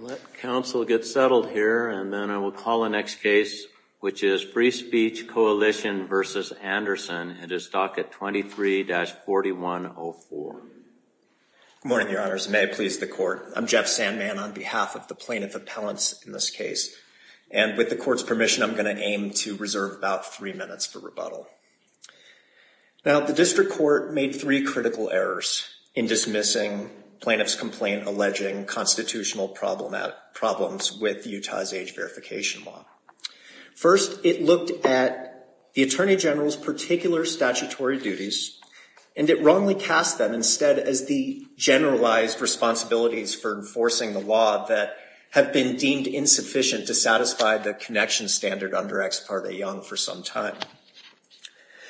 Let counsel get settled here, and then I will call the next case, which is Free Speech Coalition v. Anderson. It is docket 23-4104. Good morning, your honors. May it please the court. I'm Jeff Sandman on behalf of the plaintiff appellants in this case. And with the court's permission, I'm going to aim to reserve about three minutes for rebuttal. Now, the district court made three critical errors in dismissing plaintiff's complaint alleging constitutional problems with Utah's age verification law. First, it looked at the attorney general's particular statutory duties, and it wrongly cast them instead as the generalized responsibilities for enforcing the law that have been deemed insufficient to satisfy the connection standard under Ex Parte Young for some time.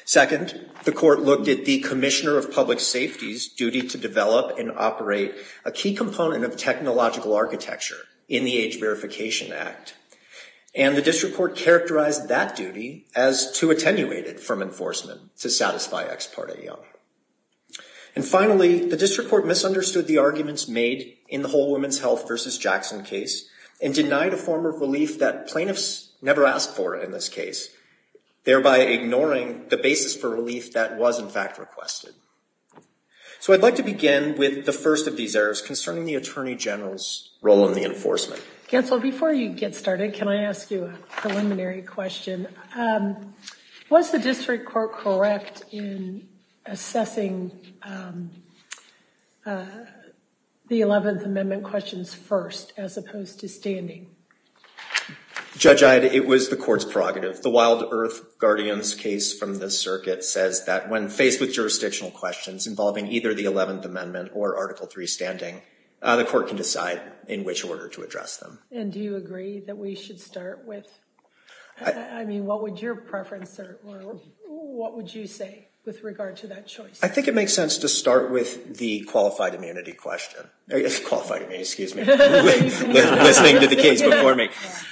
Second, the court looked at the commissioner of public safety's duty to develop and operate a key component of technological architecture in the Age Verification Act. And the district court characterized that duty as too attenuated from enforcement to satisfy Ex Parte Young. And finally, the district court misunderstood the arguments made in the whole Women's Health v. Jackson case and denied a form of relief that plaintiffs never asked for in this case, thereby ignoring the basis for relief that was, in fact, requested. So I'd like to begin with the first of these errors concerning the attorney general's role in the enforcement. Counsel, before you get started, can I ask you a preliminary question? Was the district court correct in assessing the Eleventh Amendment questions first as opposed to standing? Judge Iod, it was the court's prerogative. The Wild Earth Guardian's case from the circuit says that when faced with jurisdictional questions involving either the Eleventh Amendment or Article III standing, the court can decide in which order to address them. And do you agree that we should start with, I mean, what would your preference or what would you say with regard to that choice? I think it makes sense to start with the qualified immunity question. Qualified immunity, excuse me. Listening to the case before me.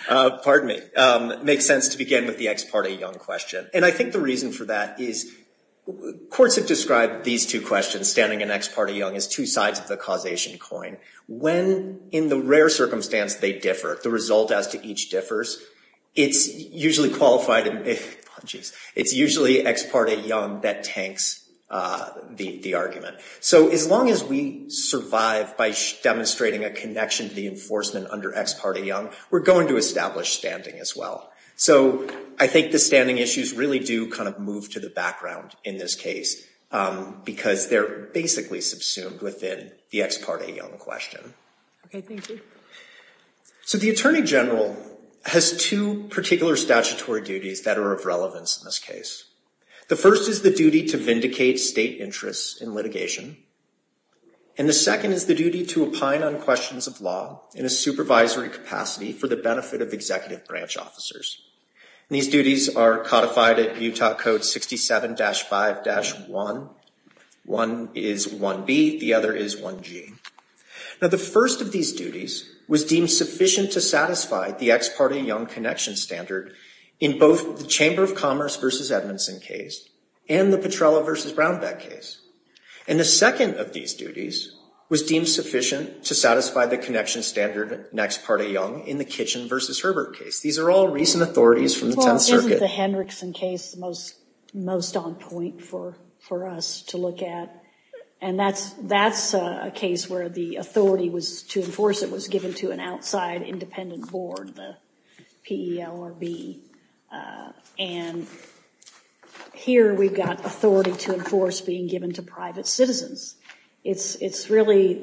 Pardon me. It makes sense to begin with the ex parte young question. And I think the reason for that is courts have described these two questions, standing and ex parte young, as two sides of the causation coin. When in the rare circumstance they differ, the result as to each differs, it's usually qualified. It's usually ex parte young that tanks the argument. So as long as we survive by demonstrating a connection to the enforcement under ex parte young, we're going to establish standing as well. So I think the standing issues really do kind of move to the background in this case because they're basically subsumed within the ex parte young question. Okay, thank you. So the Attorney General has two particular statutory duties that are of relevance in this case. The first is the duty to vindicate state interests in litigation. And the second is the duty to opine on questions of law in a supervisory capacity for the benefit of executive branch officers. These duties are codified at Utah Code 67-5-1. One is 1B. The other is 1G. Now, the first of these duties was deemed sufficient to satisfy the ex parte young connection standard in both the Chamber of Commerce v. Edmondson case and the Petrella v. Brownback case. And the second of these duties was deemed sufficient to satisfy the connection standard in ex parte young in the Kitchen v. Herbert case. These are all recent authorities from the Tenth Circuit. This is the Hendrickson case, the most on point for us to look at. And that's a case where the authority to enforce it was given to an outside independent board, the PELRB. And here we've got authority to enforce being given to private citizens. It's really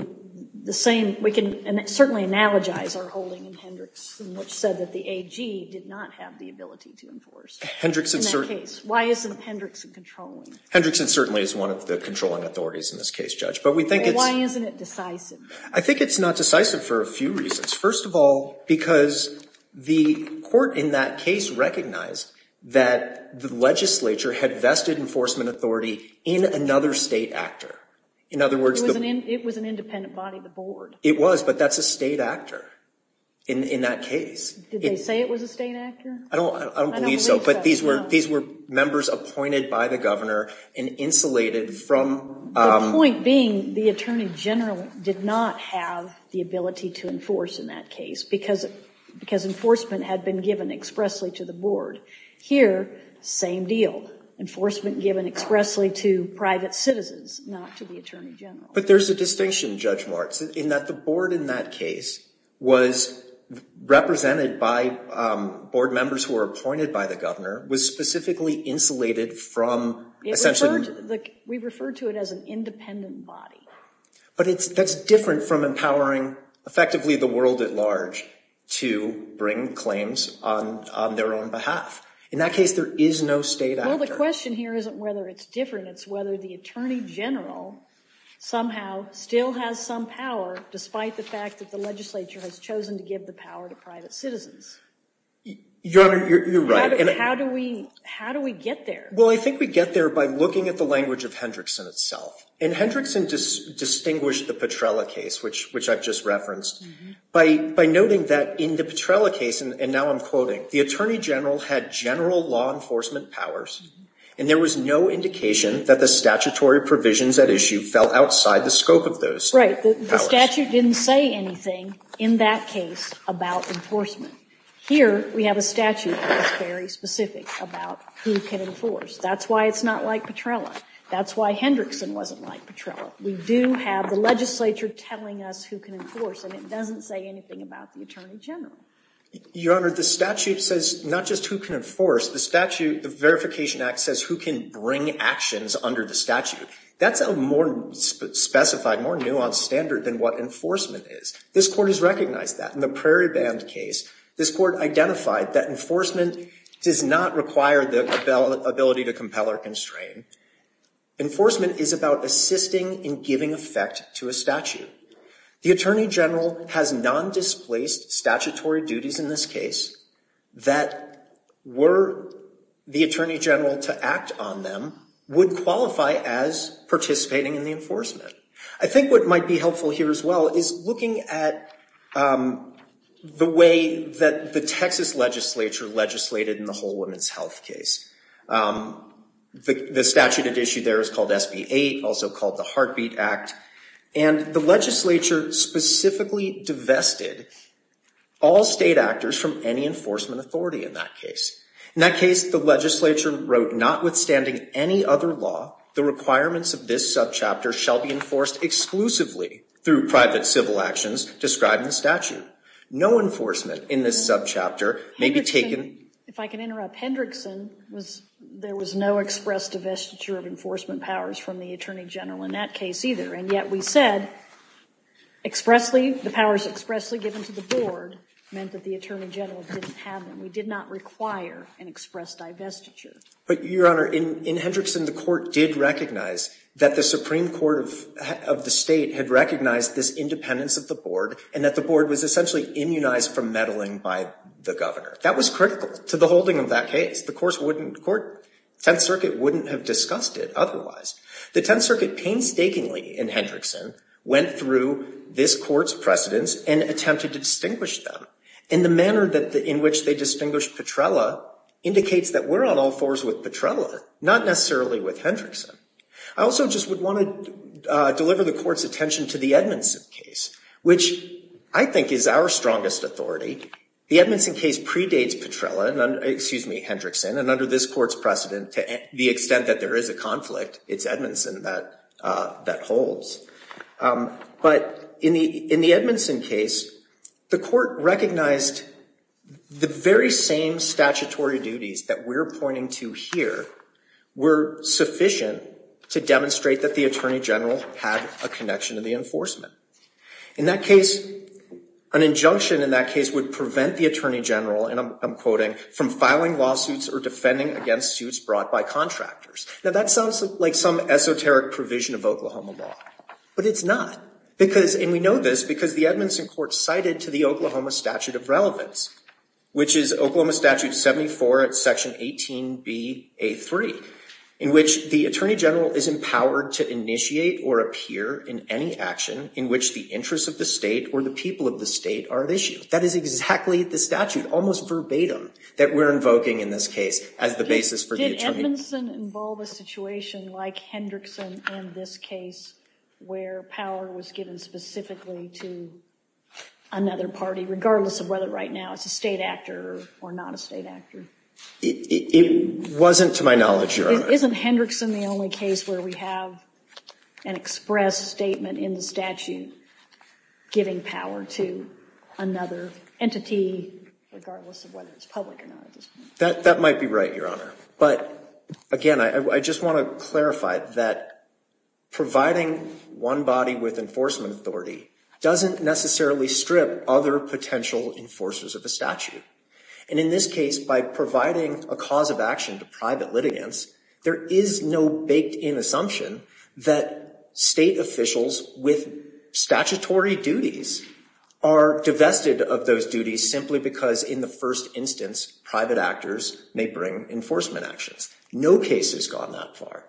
the same. We can certainly analogize our holding in Hendrickson, which said that the AG did not have the ability to enforce in that case. Why isn't Hendrickson controlling? Hendrickson certainly is one of the controlling authorities in this case, Judge. But we think it's— Why isn't it decisive? I think it's not decisive for a few reasons. First of all, because the court in that case recognized that the legislature had vested enforcement authority in another state actor. In other words— It was an independent body, the board. It was, but that's a state actor in that case. Did they say it was a state actor? I don't believe so. I don't believe so, no. But these were members appointed by the governor and insulated from— The point being the attorney general did not have the ability to enforce in that case because enforcement had been given expressly to the board. Here, same deal. Enforcement given expressly to private citizens, not to the attorney general. But there's a distinction, Judge Martz, in that the board in that case was represented by board members who were appointed by the governor, was specifically insulated from essentially— We refer to it as an independent body. But that's different from empowering effectively the world at large to bring claims on their own behalf. In that case, there is no state actor. Well, the question here isn't whether it's different. It's whether the attorney general somehow still has some power despite the fact that the legislature has chosen to give the power to private citizens. Your Honor, you're right. How do we get there? Well, I think we get there by looking at the language of Hendrickson itself. And Hendrickson distinguished the Petrella case, which I've just referenced, by noting that in the Petrella case, and now I'm quoting, the attorney general had general law enforcement powers and there was no indication that the statutory provisions at issue fell outside the scope of those powers. Right. The statute didn't say anything in that case about enforcement. Here, we have a statute that is very specific about who can enforce. That's why it's not like Petrella. That's why Hendrickson wasn't like Petrella. We do have the legislature telling us who can enforce, and it doesn't say anything about the attorney general. Your Honor, the statute says not just who can enforce. The statute, the Verification Act, says who can bring actions under the statute. That's a more specified, more nuanced standard than what enforcement is. This Court has recognized that. In the Prairie Band case, this Court identified that enforcement does not require the ability to compel or constrain. Enforcement is about assisting in giving effect to a statute. The attorney general has non-displaced statutory duties in this case that were the attorney general to act on them would qualify as participating in the enforcement. I think what might be helpful here as well is looking at the way that the Texas legislature legislated in the whole women's health case. The statute at issue there is called SB 8, also called the Heartbeat Act. And the legislature specifically divested all state actors from any enforcement authority in that case. In that case, the legislature wrote, notwithstanding any other law, the requirements of this subchapter shall be enforced exclusively through private civil actions described in the statute. No enforcement in this subchapter may be taken. If I can interrupt, Hendrickson was, there was no express divestiture of enforcement powers from the attorney general in that case either. And yet we said expressly, the powers expressly given to the board meant that the attorney general didn't have them. We did not require an express divestiture. But, Your Honor, in Hendrickson, the court did recognize that the Supreme Court of the State had recognized this independence of the board and that the board was essentially immunized from meddling by the governor. That was critical to the holding of that case. The court wouldn't court, Tenth Circuit wouldn't have discussed it otherwise. The Tenth Circuit painstakingly in Hendrickson went through this court's precedents and attempted to distinguish them. And the manner in which they distinguished Petrella indicates that we're on all fours with Petrella, not necessarily with Hendrickson. I also just would want to deliver the court's attention to the Edmondson case, which I think is our strongest authority. The Edmondson case predates Petrella, excuse me, Hendrickson. And under this court's precedent, to the extent that there is a conflict, it's Edmondson that holds. But in the Edmondson case, the court recognized the very same statutory duties that we're pointing to here were sufficient to demonstrate that the attorney general had a connection to the enforcement. In that case, an injunction in that case would prevent the attorney general, and I'm quoting, from filing lawsuits or defending against suits brought by contractors. Now that sounds like some esoteric provision of Oklahoma law, but it's not. And we know this because the Edmondson court cited to the Oklahoma Statute of Relevance, which is Oklahoma Statute 74 at Section 18bA3, in which the attorney general is empowered to initiate or appear in any action in which the interests of the state or the people of the state are at issue. That is exactly the statute, almost verbatim, that we're invoking in this case as the basis for the attorney general. Did Edmondson involve a situation like Hendrickson in this case where power was given specifically to another party, regardless of whether right now it's a state actor or not a state actor? It wasn't to my knowledge, Your Honor. Isn't Hendrickson the only case where we have an express statement in the statute giving power to another entity, regardless of whether it's public or not? That might be right, Your Honor. But again, I just want to clarify that providing one body with enforcement authority doesn't necessarily strip other potential enforcers of a statute. And in this case, by providing a cause of action to private litigants, there is no baked-in assumption that state officials with statutory duties are divested of those duties simply because, in the first instance, private actors may bring enforcement actions. No case has gone that far.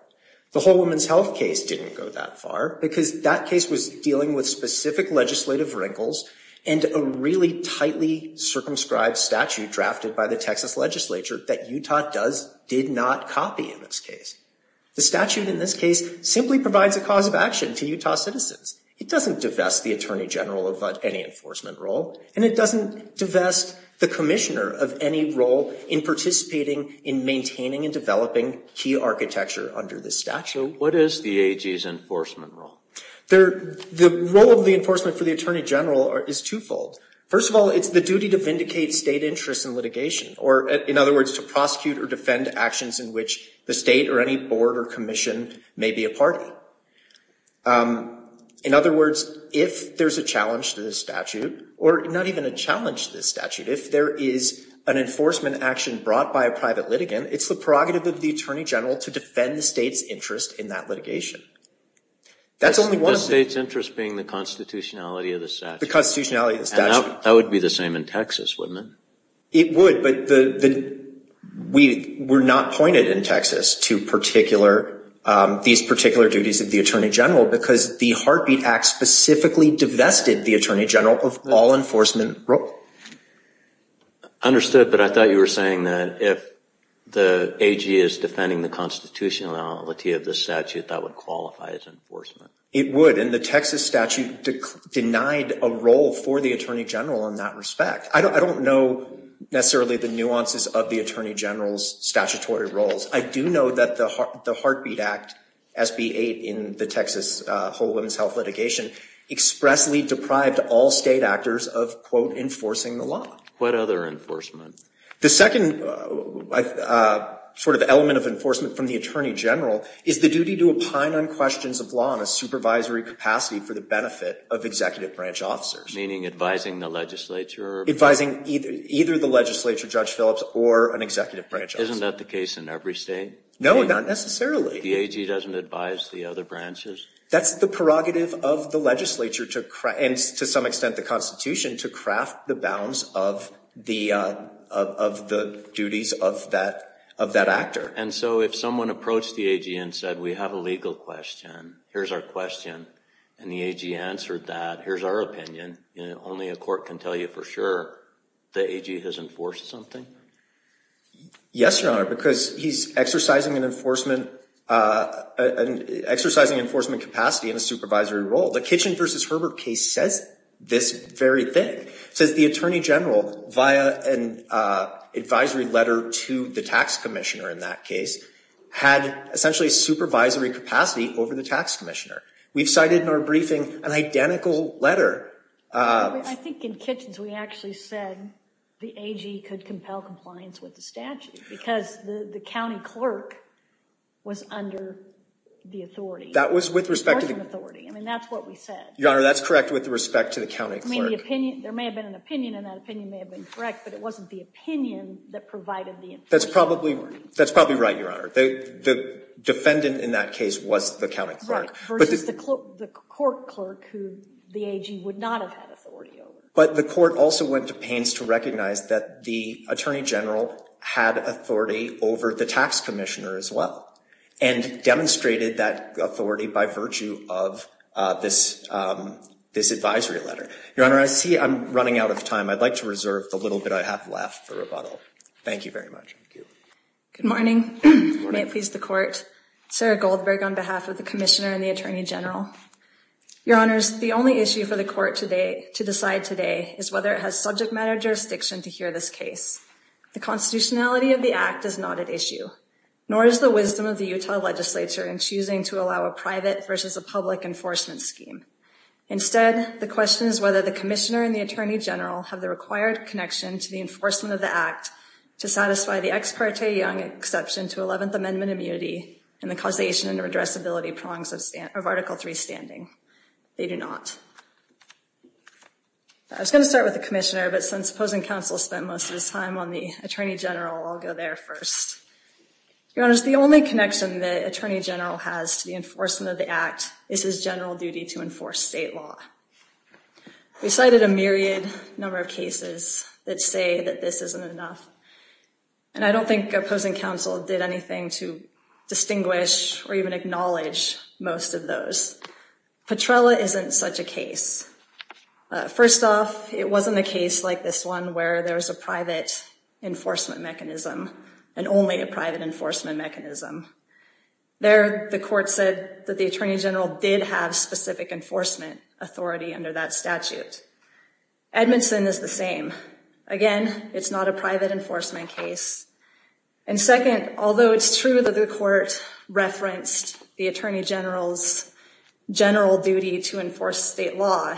The whole women's health case didn't go that far because that case was dealing with specific legislative wrinkles and a really tightly circumscribed statute drafted by the Texas legislature that Utah did not copy in this case. The statute in this case simply provides a cause of action to Utah citizens. It doesn't divest the attorney general of any enforcement role, and it doesn't divest the commissioner of any role in participating in maintaining and developing key architecture under this statute. So what is the AG's enforcement role? The role of the enforcement for the attorney general is twofold. First of all, it's the duty to vindicate state interests in litigation, or in other words, to prosecute or defend actions in which the state or any board or commission may be a party. In other words, if there's a challenge to this statute, or not even a challenge to this statute, if there is an enforcement action brought by a private litigant, it's the prerogative of the attorney general to defend the state's interest in that litigation. The state's interest being the constitutionality of the statute. The constitutionality of the statute. That would be the same in Texas, wouldn't it? It would, but we're not pointed in Texas to these particular duties of the attorney general because the Heartbeat Act specifically divested the attorney general of all enforcement role. Understood, but I thought you were saying that if the AG is defending the constitutionality of the statute, that would qualify as enforcement. It would, and the Texas statute denied a role for the attorney general in that respect. I don't know necessarily the nuances of the attorney general's statutory roles. I do know that the Heartbeat Act, SB 8 in the Texas whole women's health litigation, expressly deprived all state actors of, quote, enforcing the law. What other enforcement? The second sort of element of enforcement from the attorney general is the duty to opine on questions of law in a supervisory capacity for the benefit of executive branch officers. Meaning advising the legislature? Advising either the legislature, Judge Phillips, or an executive branch officer. Isn't that the case in every state? No, not necessarily. The AG doesn't advise the other branches? That's the prerogative of the legislature, and to some extent the constitution, to craft the bounds of the duties of that actor. And so if someone approached the AG and said, we have a legal question, here's our question, and the AG answered that, here's our opinion, only a court can tell you for sure the AG has enforced something? Yes, Your Honor, because he's exercising an enforcement capacity in a supervisory role. The Kitchen v. Herbert case says this very thing. It says the attorney general, via an advisory letter to the tax commissioner in that case, had essentially supervisory capacity over the tax commissioner. We've cited in our briefing an identical letter. I think in Kitchens we actually said the AG could compel compliance with the statute, because the county clerk was under the authority. That was with respect to the- Enforcement authority. I mean, that's what we said. Your Honor, that's correct with respect to the county clerk. I mean, there may have been an opinion, and that opinion may have been correct, but it wasn't the opinion that provided the enforcement authority. That's probably right, Your Honor. The defendant in that case was the county clerk. The court clerk who the AG would not have had authority over. But the court also went to pains to recognize that the attorney general had authority over the tax commissioner as well, and demonstrated that authority by virtue of this advisory letter. Your Honor, I see I'm running out of time. I'd like to reserve the little bit I have left for rebuttal. Thank you very much. Good morning. May it please the Court. Sarah Goldberg on behalf of the Commissioner and the Attorney General. Your Honors, the only issue for the Court to decide today is whether it has subject matter jurisdiction to hear this case. The constitutionality of the Act is not at issue, nor is the wisdom of the Utah legislature in choosing to allow a private versus a public enforcement scheme. Instead, the question is whether the Commissioner and the Attorney General have the required connection to the enforcement of the Act to satisfy the ex parte Young exception to 11th Amendment immunity and the causation and addressability prongs of Article III standing. They do not. I was going to start with the Commissioner, but since opposing counsel spent most of his time on the Attorney General, I'll go there first. Your Honors, the only connection the Attorney General has to the enforcement of the Act is his general duty to enforce state law. We cited a myriad number of cases that say that this isn't enough. And I don't think opposing counsel did anything to distinguish or even acknowledge most of those. Petrella isn't such a case. First off, it wasn't a case like this one where there's a private enforcement mechanism and only a private enforcement mechanism. There, the Court said that the Attorney General did have specific enforcement authority under that statute. Edmondson is the same. Again, it's not a private enforcement case. And second, although it's true that the Court referenced the Attorney General's general duty to enforce state law,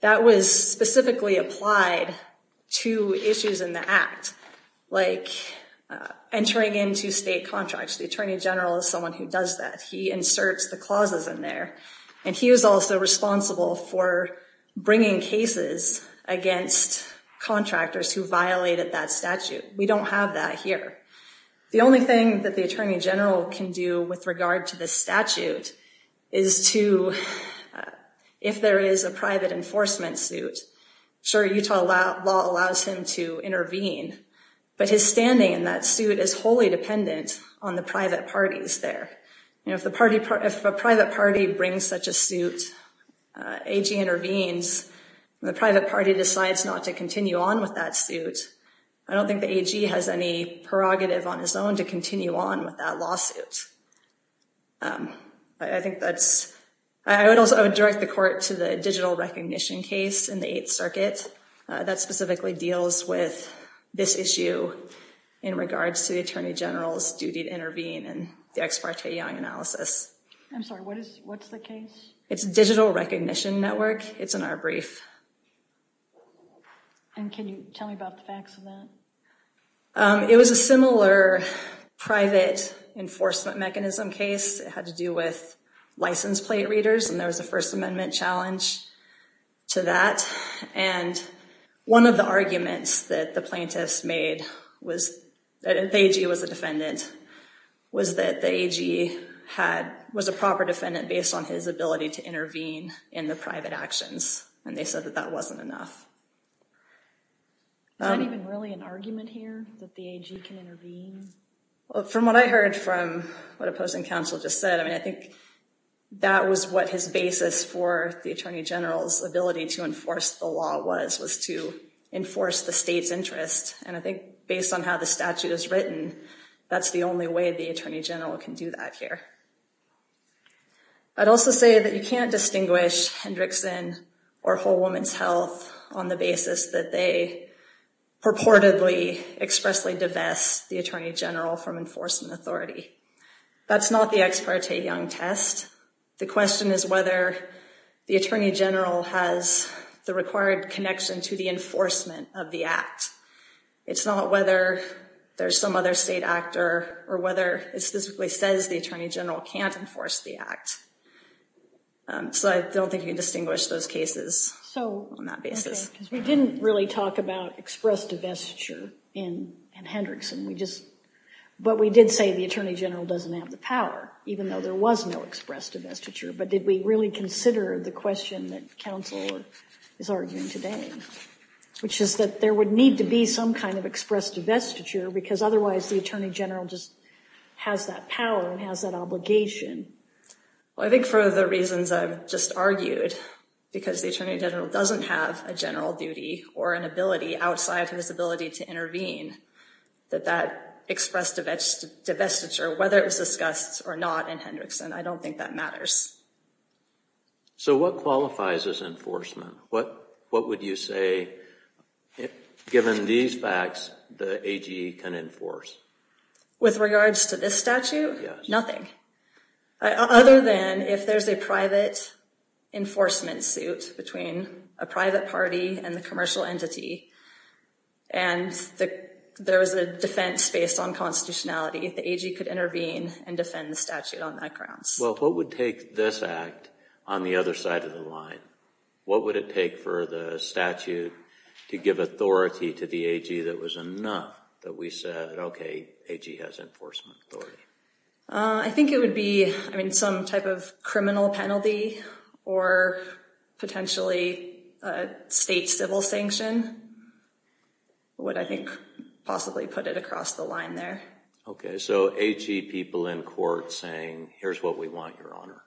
that was specifically applied to issues in the Act, like entering into state contracts. The Attorney General is someone who does that. He inserts the clauses in there. And he was also responsible for bringing cases against contractors who violated that statute. We don't have that here. The only thing that the Attorney General can do with regard to the statute is to, if there is a private enforcement suit, sure, Utah law allows him to intervene. But his standing in that suit is wholly dependent on the private parties there. If a private party brings such a suit, AG intervenes, and the private party decides not to continue on with that suit, I don't think the AG has any prerogative on his own to continue on with that lawsuit. I would direct the Court to the digital recognition case in the Eighth Circuit that specifically deals with this issue in regards to the Attorney General's duty to intervene in the Ex Parte Young analysis. I'm sorry, what's the case? It's a digital recognition network. It's in our brief. And can you tell me about the facts of that? It was a similar private enforcement mechanism case. It had to do with license plate readers, and there was a First Amendment challenge to that. And one of the arguments that the plaintiffs made was that the AG was a defendant, was that the AG was a proper defendant based on his ability to intervene in the private actions. And they said that that wasn't enough. Is that even really an argument here, that the AG can intervene? From what I heard from what opposing counsel just said, I mean, I think that was what his basis for the Attorney General's ability to enforce the law was, was to enforce the state's interest. And I think based on how the statute is written, that's the only way the Attorney General can do that here. I'd also say that you can't distinguish Hendrickson or Whole Woman's Health on the basis that they purportedly expressly divest the Attorney General from enforcement authority. That's not the Ex Parte Young test. The question is whether the Attorney General has the required connection to the enforcement of the act. It's not whether there's some other state actor or whether it specifically says the Attorney General can't enforce the act. So I don't think you can distinguish those cases on that basis. We didn't really talk about express divestiture in Hendrickson. But we did say the Attorney General doesn't have the power, even though there was no express divestiture. But did we really consider the question that counsel is arguing today? Which is that there would need to be some kind of express divestiture because otherwise the Attorney General just has that power and has that obligation. I think for the reasons I've just argued, because the Attorney General doesn't have a general duty or an ability outside his ability to intervene, that that express divestiture, whether it was discussed or not in Hendrickson, I don't think that matters. So what qualifies as enforcement? What would you say, given these facts, the AG can enforce? With regards to this statute? Nothing. Other than if there's a private enforcement suit between a private party and the commercial entity, and there was a defense based on constitutionality, the AG could intervene and defend the statute on that grounds. Well, what would take this act on the other side of the line? What would it take for the statute to give authority to the AG that was enough that we said, okay, AG has enforcement authority? I think it would be, I mean, some type of criminal penalty or potentially a state civil sanction would, I think, possibly put it across the line there. Okay, so AG people in court saying, here's what we want, Your Honor,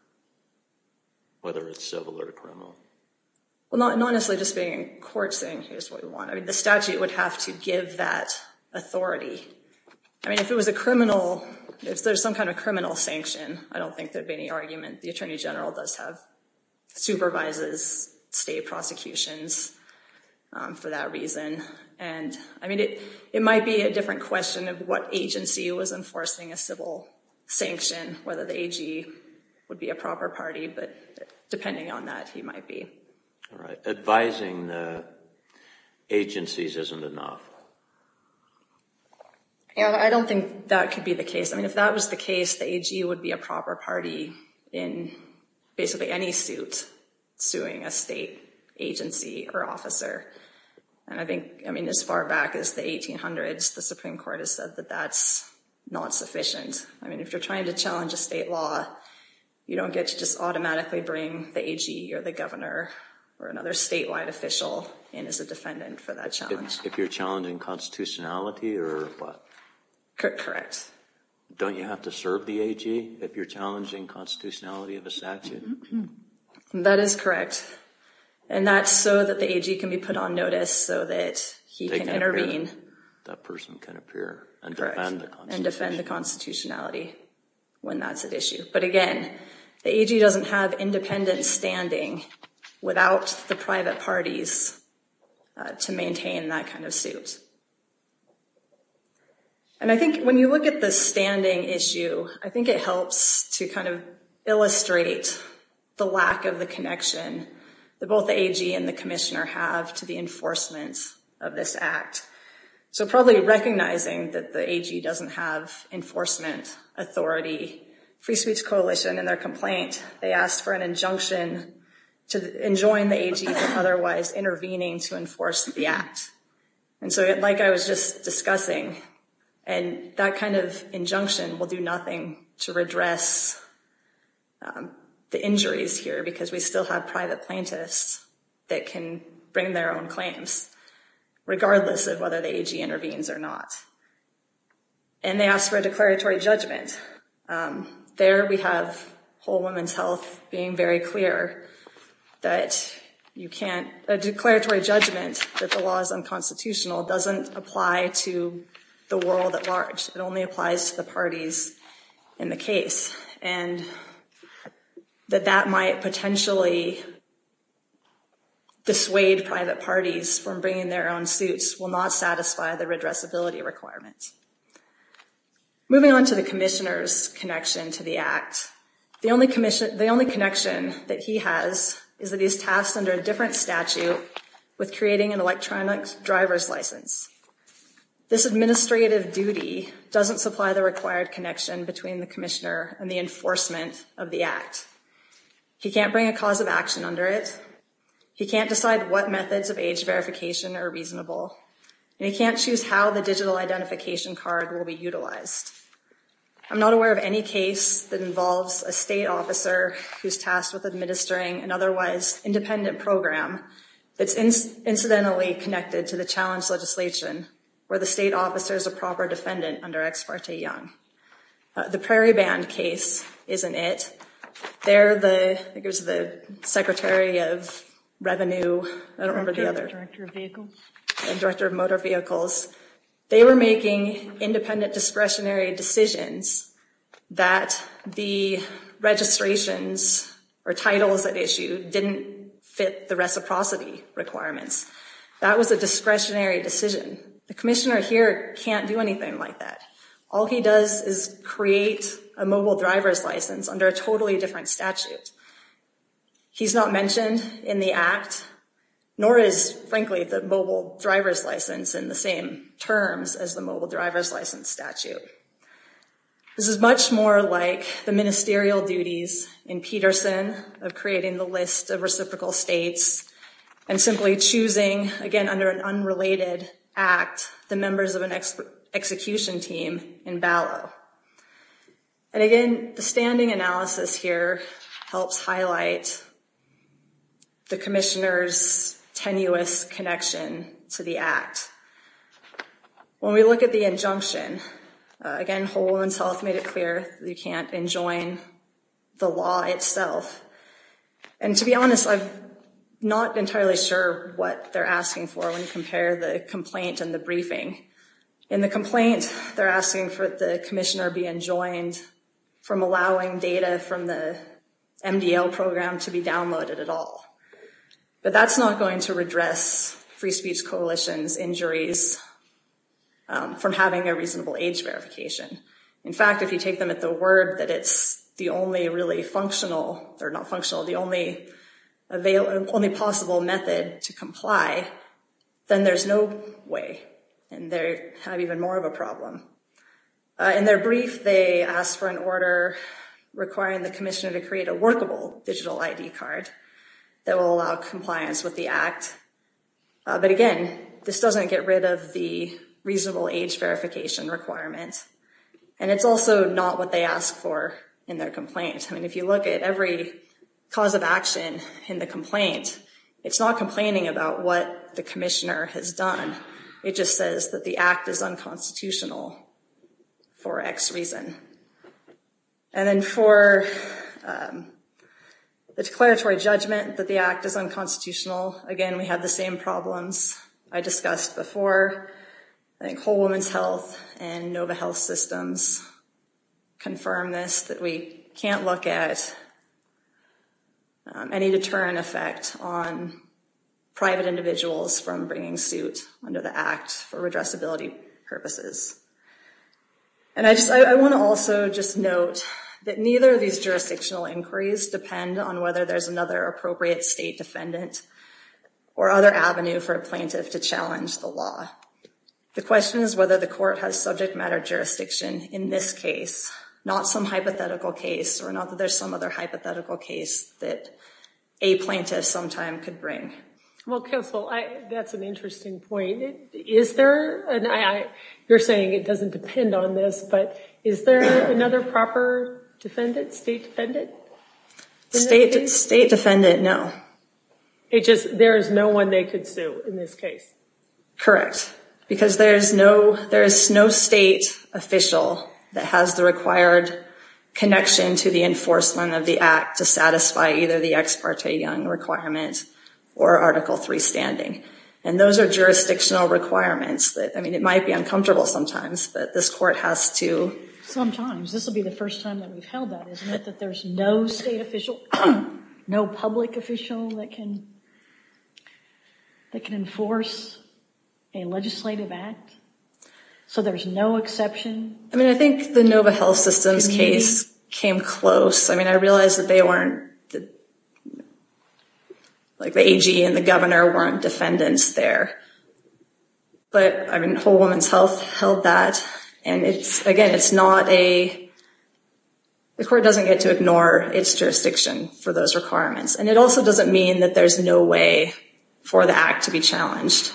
whether it's civil or criminal. Well, not honestly just being in court saying, here's what we want. I mean, the statute would have to give that authority. I mean, if it was a criminal, if there's some kind of criminal sanction, I don't think there'd be any argument. The Attorney General does have, supervises state prosecutions for that reason. And, I mean, it might be a different question of what agency was enforcing a civil sanction, whether the AG would be a proper party, but depending on that, he might be. All right. Advising the agencies isn't enough. I don't think that could be the case. I mean, if that was the case, the AG would be a proper party in basically any suit suing a state agency or officer. And I think, I mean, as far back as the 1800s, the Supreme Court has said that that's not sufficient. I mean, if you're trying to challenge a state law, you don't get to just automatically bring the AG or the governor or another statewide official in as a defendant for that challenge. If you're challenging constitutionality or what? Correct. Don't you have to serve the AG if you're challenging constitutionality of a statute? That is correct. And that's so that the AG can be put on notice so that he can intervene. That person can appear and defend the constitutionality. Correct. And defend the constitutionality when that's at issue. But again, the AG doesn't have independent standing without the private parties to maintain that kind of suit. And I think when you look at the standing issue, I think it helps to kind of illustrate the lack of the connection that both the AG and the commissioner have to the enforcement of this act. So probably recognizing that the AG doesn't have enforcement authority, Free Speech Coalition in their complaint, they asked for an injunction to enjoin the AG from otherwise intervening to enforce the act. And so like I was just discussing, and that kind of injunction will do nothing to redress the injuries here because we still have private plaintiffs that can bring their own claims, regardless of whether the AG intervenes or not. And they asked for a declaratory judgment. There we have Whole Woman's Health being very clear that you can't, a declaratory judgment that the law is unconstitutional doesn't apply to the world at large. It only applies to the parties in the case and that that might potentially dissuade private parties from bringing their own suits will not satisfy the redressability requirements. Moving on to the commissioner's connection to the act. The only connection that he has is that he's tasked under a different statute with creating an electronic driver's license. This administrative duty doesn't supply the required connection between the commissioner and the enforcement of the act. He can't bring a cause of action under it. He can't decide what methods of age verification are reasonable. And he can't choose how the digital identification card will be utilized. I'm not aware of any case that involves a state officer who's tasked with administering an otherwise independent program that's incidentally connected to the challenge legislation where the state officer is a proper defendant under Ex parte Young. The Prairie Band case isn't it. They're the, I think it was the secretary of revenue. I don't remember the other. Director of Motor Vehicles. They were making independent discretionary decisions that the registrations or titles that issue didn't fit the reciprocity requirements. That was a discretionary decision. The commissioner here can't do anything like that. All he does is create a mobile driver's license under a totally different statute. He's not mentioned in the act, nor is frankly the mobile driver's license in the same terms as the mobile driver's license statute. This is much more like the ministerial duties in Peterson of creating the list of reciprocal states and simply choosing, again, under an unrelated act, the members of an execution team in Ballot. And again, the standing analysis here helps highlight the commissioner's tenuous connection to the act. When we look at the injunction, again, Whole Woman's Health made it clear you can't enjoin the law itself. And to be honest, I'm not entirely sure what they're asking for when you compare the complaint and the briefing. In the complaint, they're asking for the commissioner be enjoined from allowing data from the MDL program to be downloaded at all. But that's not going to redress Free Speech Coalition's injuries from having a reasonable age verification. In fact, if you take them at the word that it's the only possible method to comply, then there's no way. And they have even more of a problem. In their brief, they ask for an order requiring the commissioner to create a workable digital ID card that will allow compliance with the act. But again, this doesn't get rid of the reasonable age verification requirements. And it's also not what they ask for in their complaint. I mean, if you look at every cause of action in the complaint, it's not complaining about what the commissioner has done. It just says that the act is unconstitutional for X reason. And then for the declaratory judgment that the act is unconstitutional, again, we have the same problems I discussed before. I think Whole Woman's Health and Nova Health Systems confirm this, that we can't look at any deterrent effect on private individuals from bringing suit. Under the act for redressability purposes. And I want to also just note that neither of these jurisdictional inquiries depend on whether there's another appropriate state defendant or other avenue for a plaintiff to challenge the law. The question is whether the court has subject matter jurisdiction in this case, not some hypothetical case or not that there's some other hypothetical case that a plaintiff sometime could bring. Well, counsel, that's an interesting point. Is there, and you're saying it doesn't depend on this, but is there another proper defendant, state defendant? State defendant, no. It just, there is no one they could sue in this case. Correct. Because there is no, there is no state official that has the required connection to the enforcement of the act to satisfy either the Ex Parte Young requirement or Article III standing. And those are jurisdictional requirements that, I mean, it might be uncomfortable sometimes, but this court has to. Sometimes. This will be the first time that we've held that, isn't it? That there's no state official, no public official that can, that can enforce a legislative act. So there's no exception. I mean, I think the Nova Health Systems case came close. I mean, I realize that they weren't, like the AG and the governor weren't defendants there. But, I mean, Whole Woman's Health held that. And it's, again, it's not a, the court doesn't get to ignore its jurisdiction for those requirements. And it also doesn't mean that there's no way for the act to be challenged.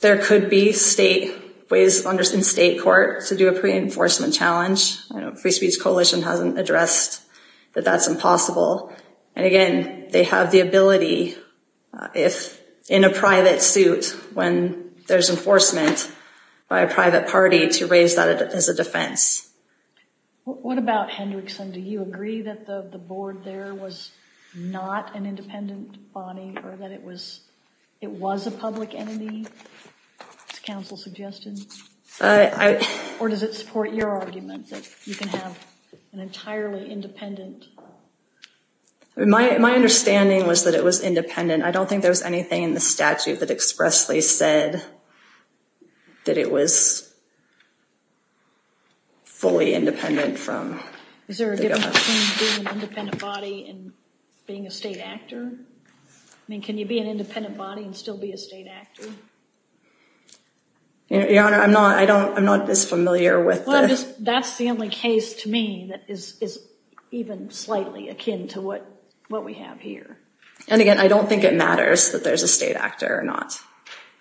There could be state, ways in state court to do a pre-enforcement challenge. I know Free Speech Coalition hasn't addressed that that's impossible. And again, they have the ability, if in a private suit, when there's enforcement by a private party, to raise that as a defense. What about Hendrickson? Do you agree that the board there was not an independent body or that it was, it was a public entity, as counsel suggested? Or does it support your argument that you can have an entirely independent? My understanding was that it was independent. I don't think there was anything in the statute that expressly said that it was fully independent from the government. Is there a difference between being an independent body and being a state actor? I mean, can you be an independent body and still be a state actor? Your Honor, I'm not, I don't, I'm not as familiar with this. That's the only case to me that is, is even slightly akin to what, what we have here. And again, I don't think it matters that there's a state actor or not.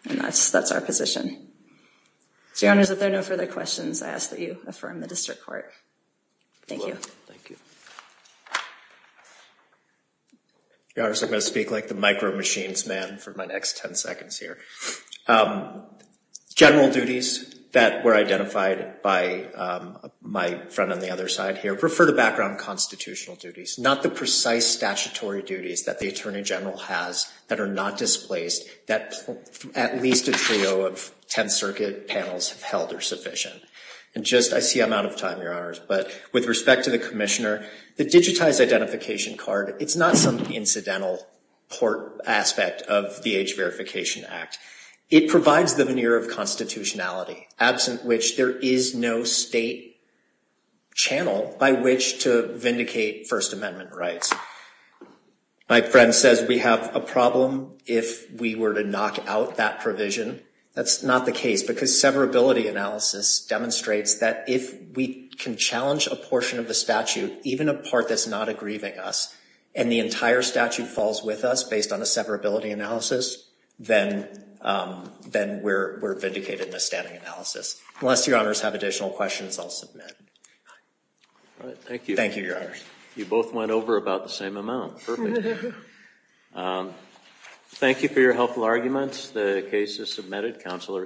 And that's, that's our position. So, Your Honors, if there are no further questions, I ask that you affirm the district court. Thank you. Thank you. Your Honors, I'm going to speak like the micro-machines man for my next 10 seconds here. General duties that were identified by my friend on the other side here, refer to background constitutional duties, not the precise statutory duties that the Attorney General has that are not displaced, that at least a trio of 10th Circuit panels have held are sufficient. And just, I see I'm out of time, Your Honors, but with respect to the Commissioner, the digitized identification card, it's not some incidental port aspect of the Age Verification Act. It provides the veneer of constitutionality, absent which there is no state channel by which to vindicate First Amendment rights. My friend says we have a problem if we were to knock out that provision. That's not the case, because severability analysis demonstrates that if we can challenge a portion of the statute, even a part that's not aggrieving us, and the entire statute falls with us based on a severability analysis, then we're vindicated in a standing analysis. Unless Your Honors have additional questions, I'll submit. Thank you. Thank you, Your Honors. You both went over about the same amount. Perfect. Thank you for your helpful arguments. The case is submitted. Counsel are excused.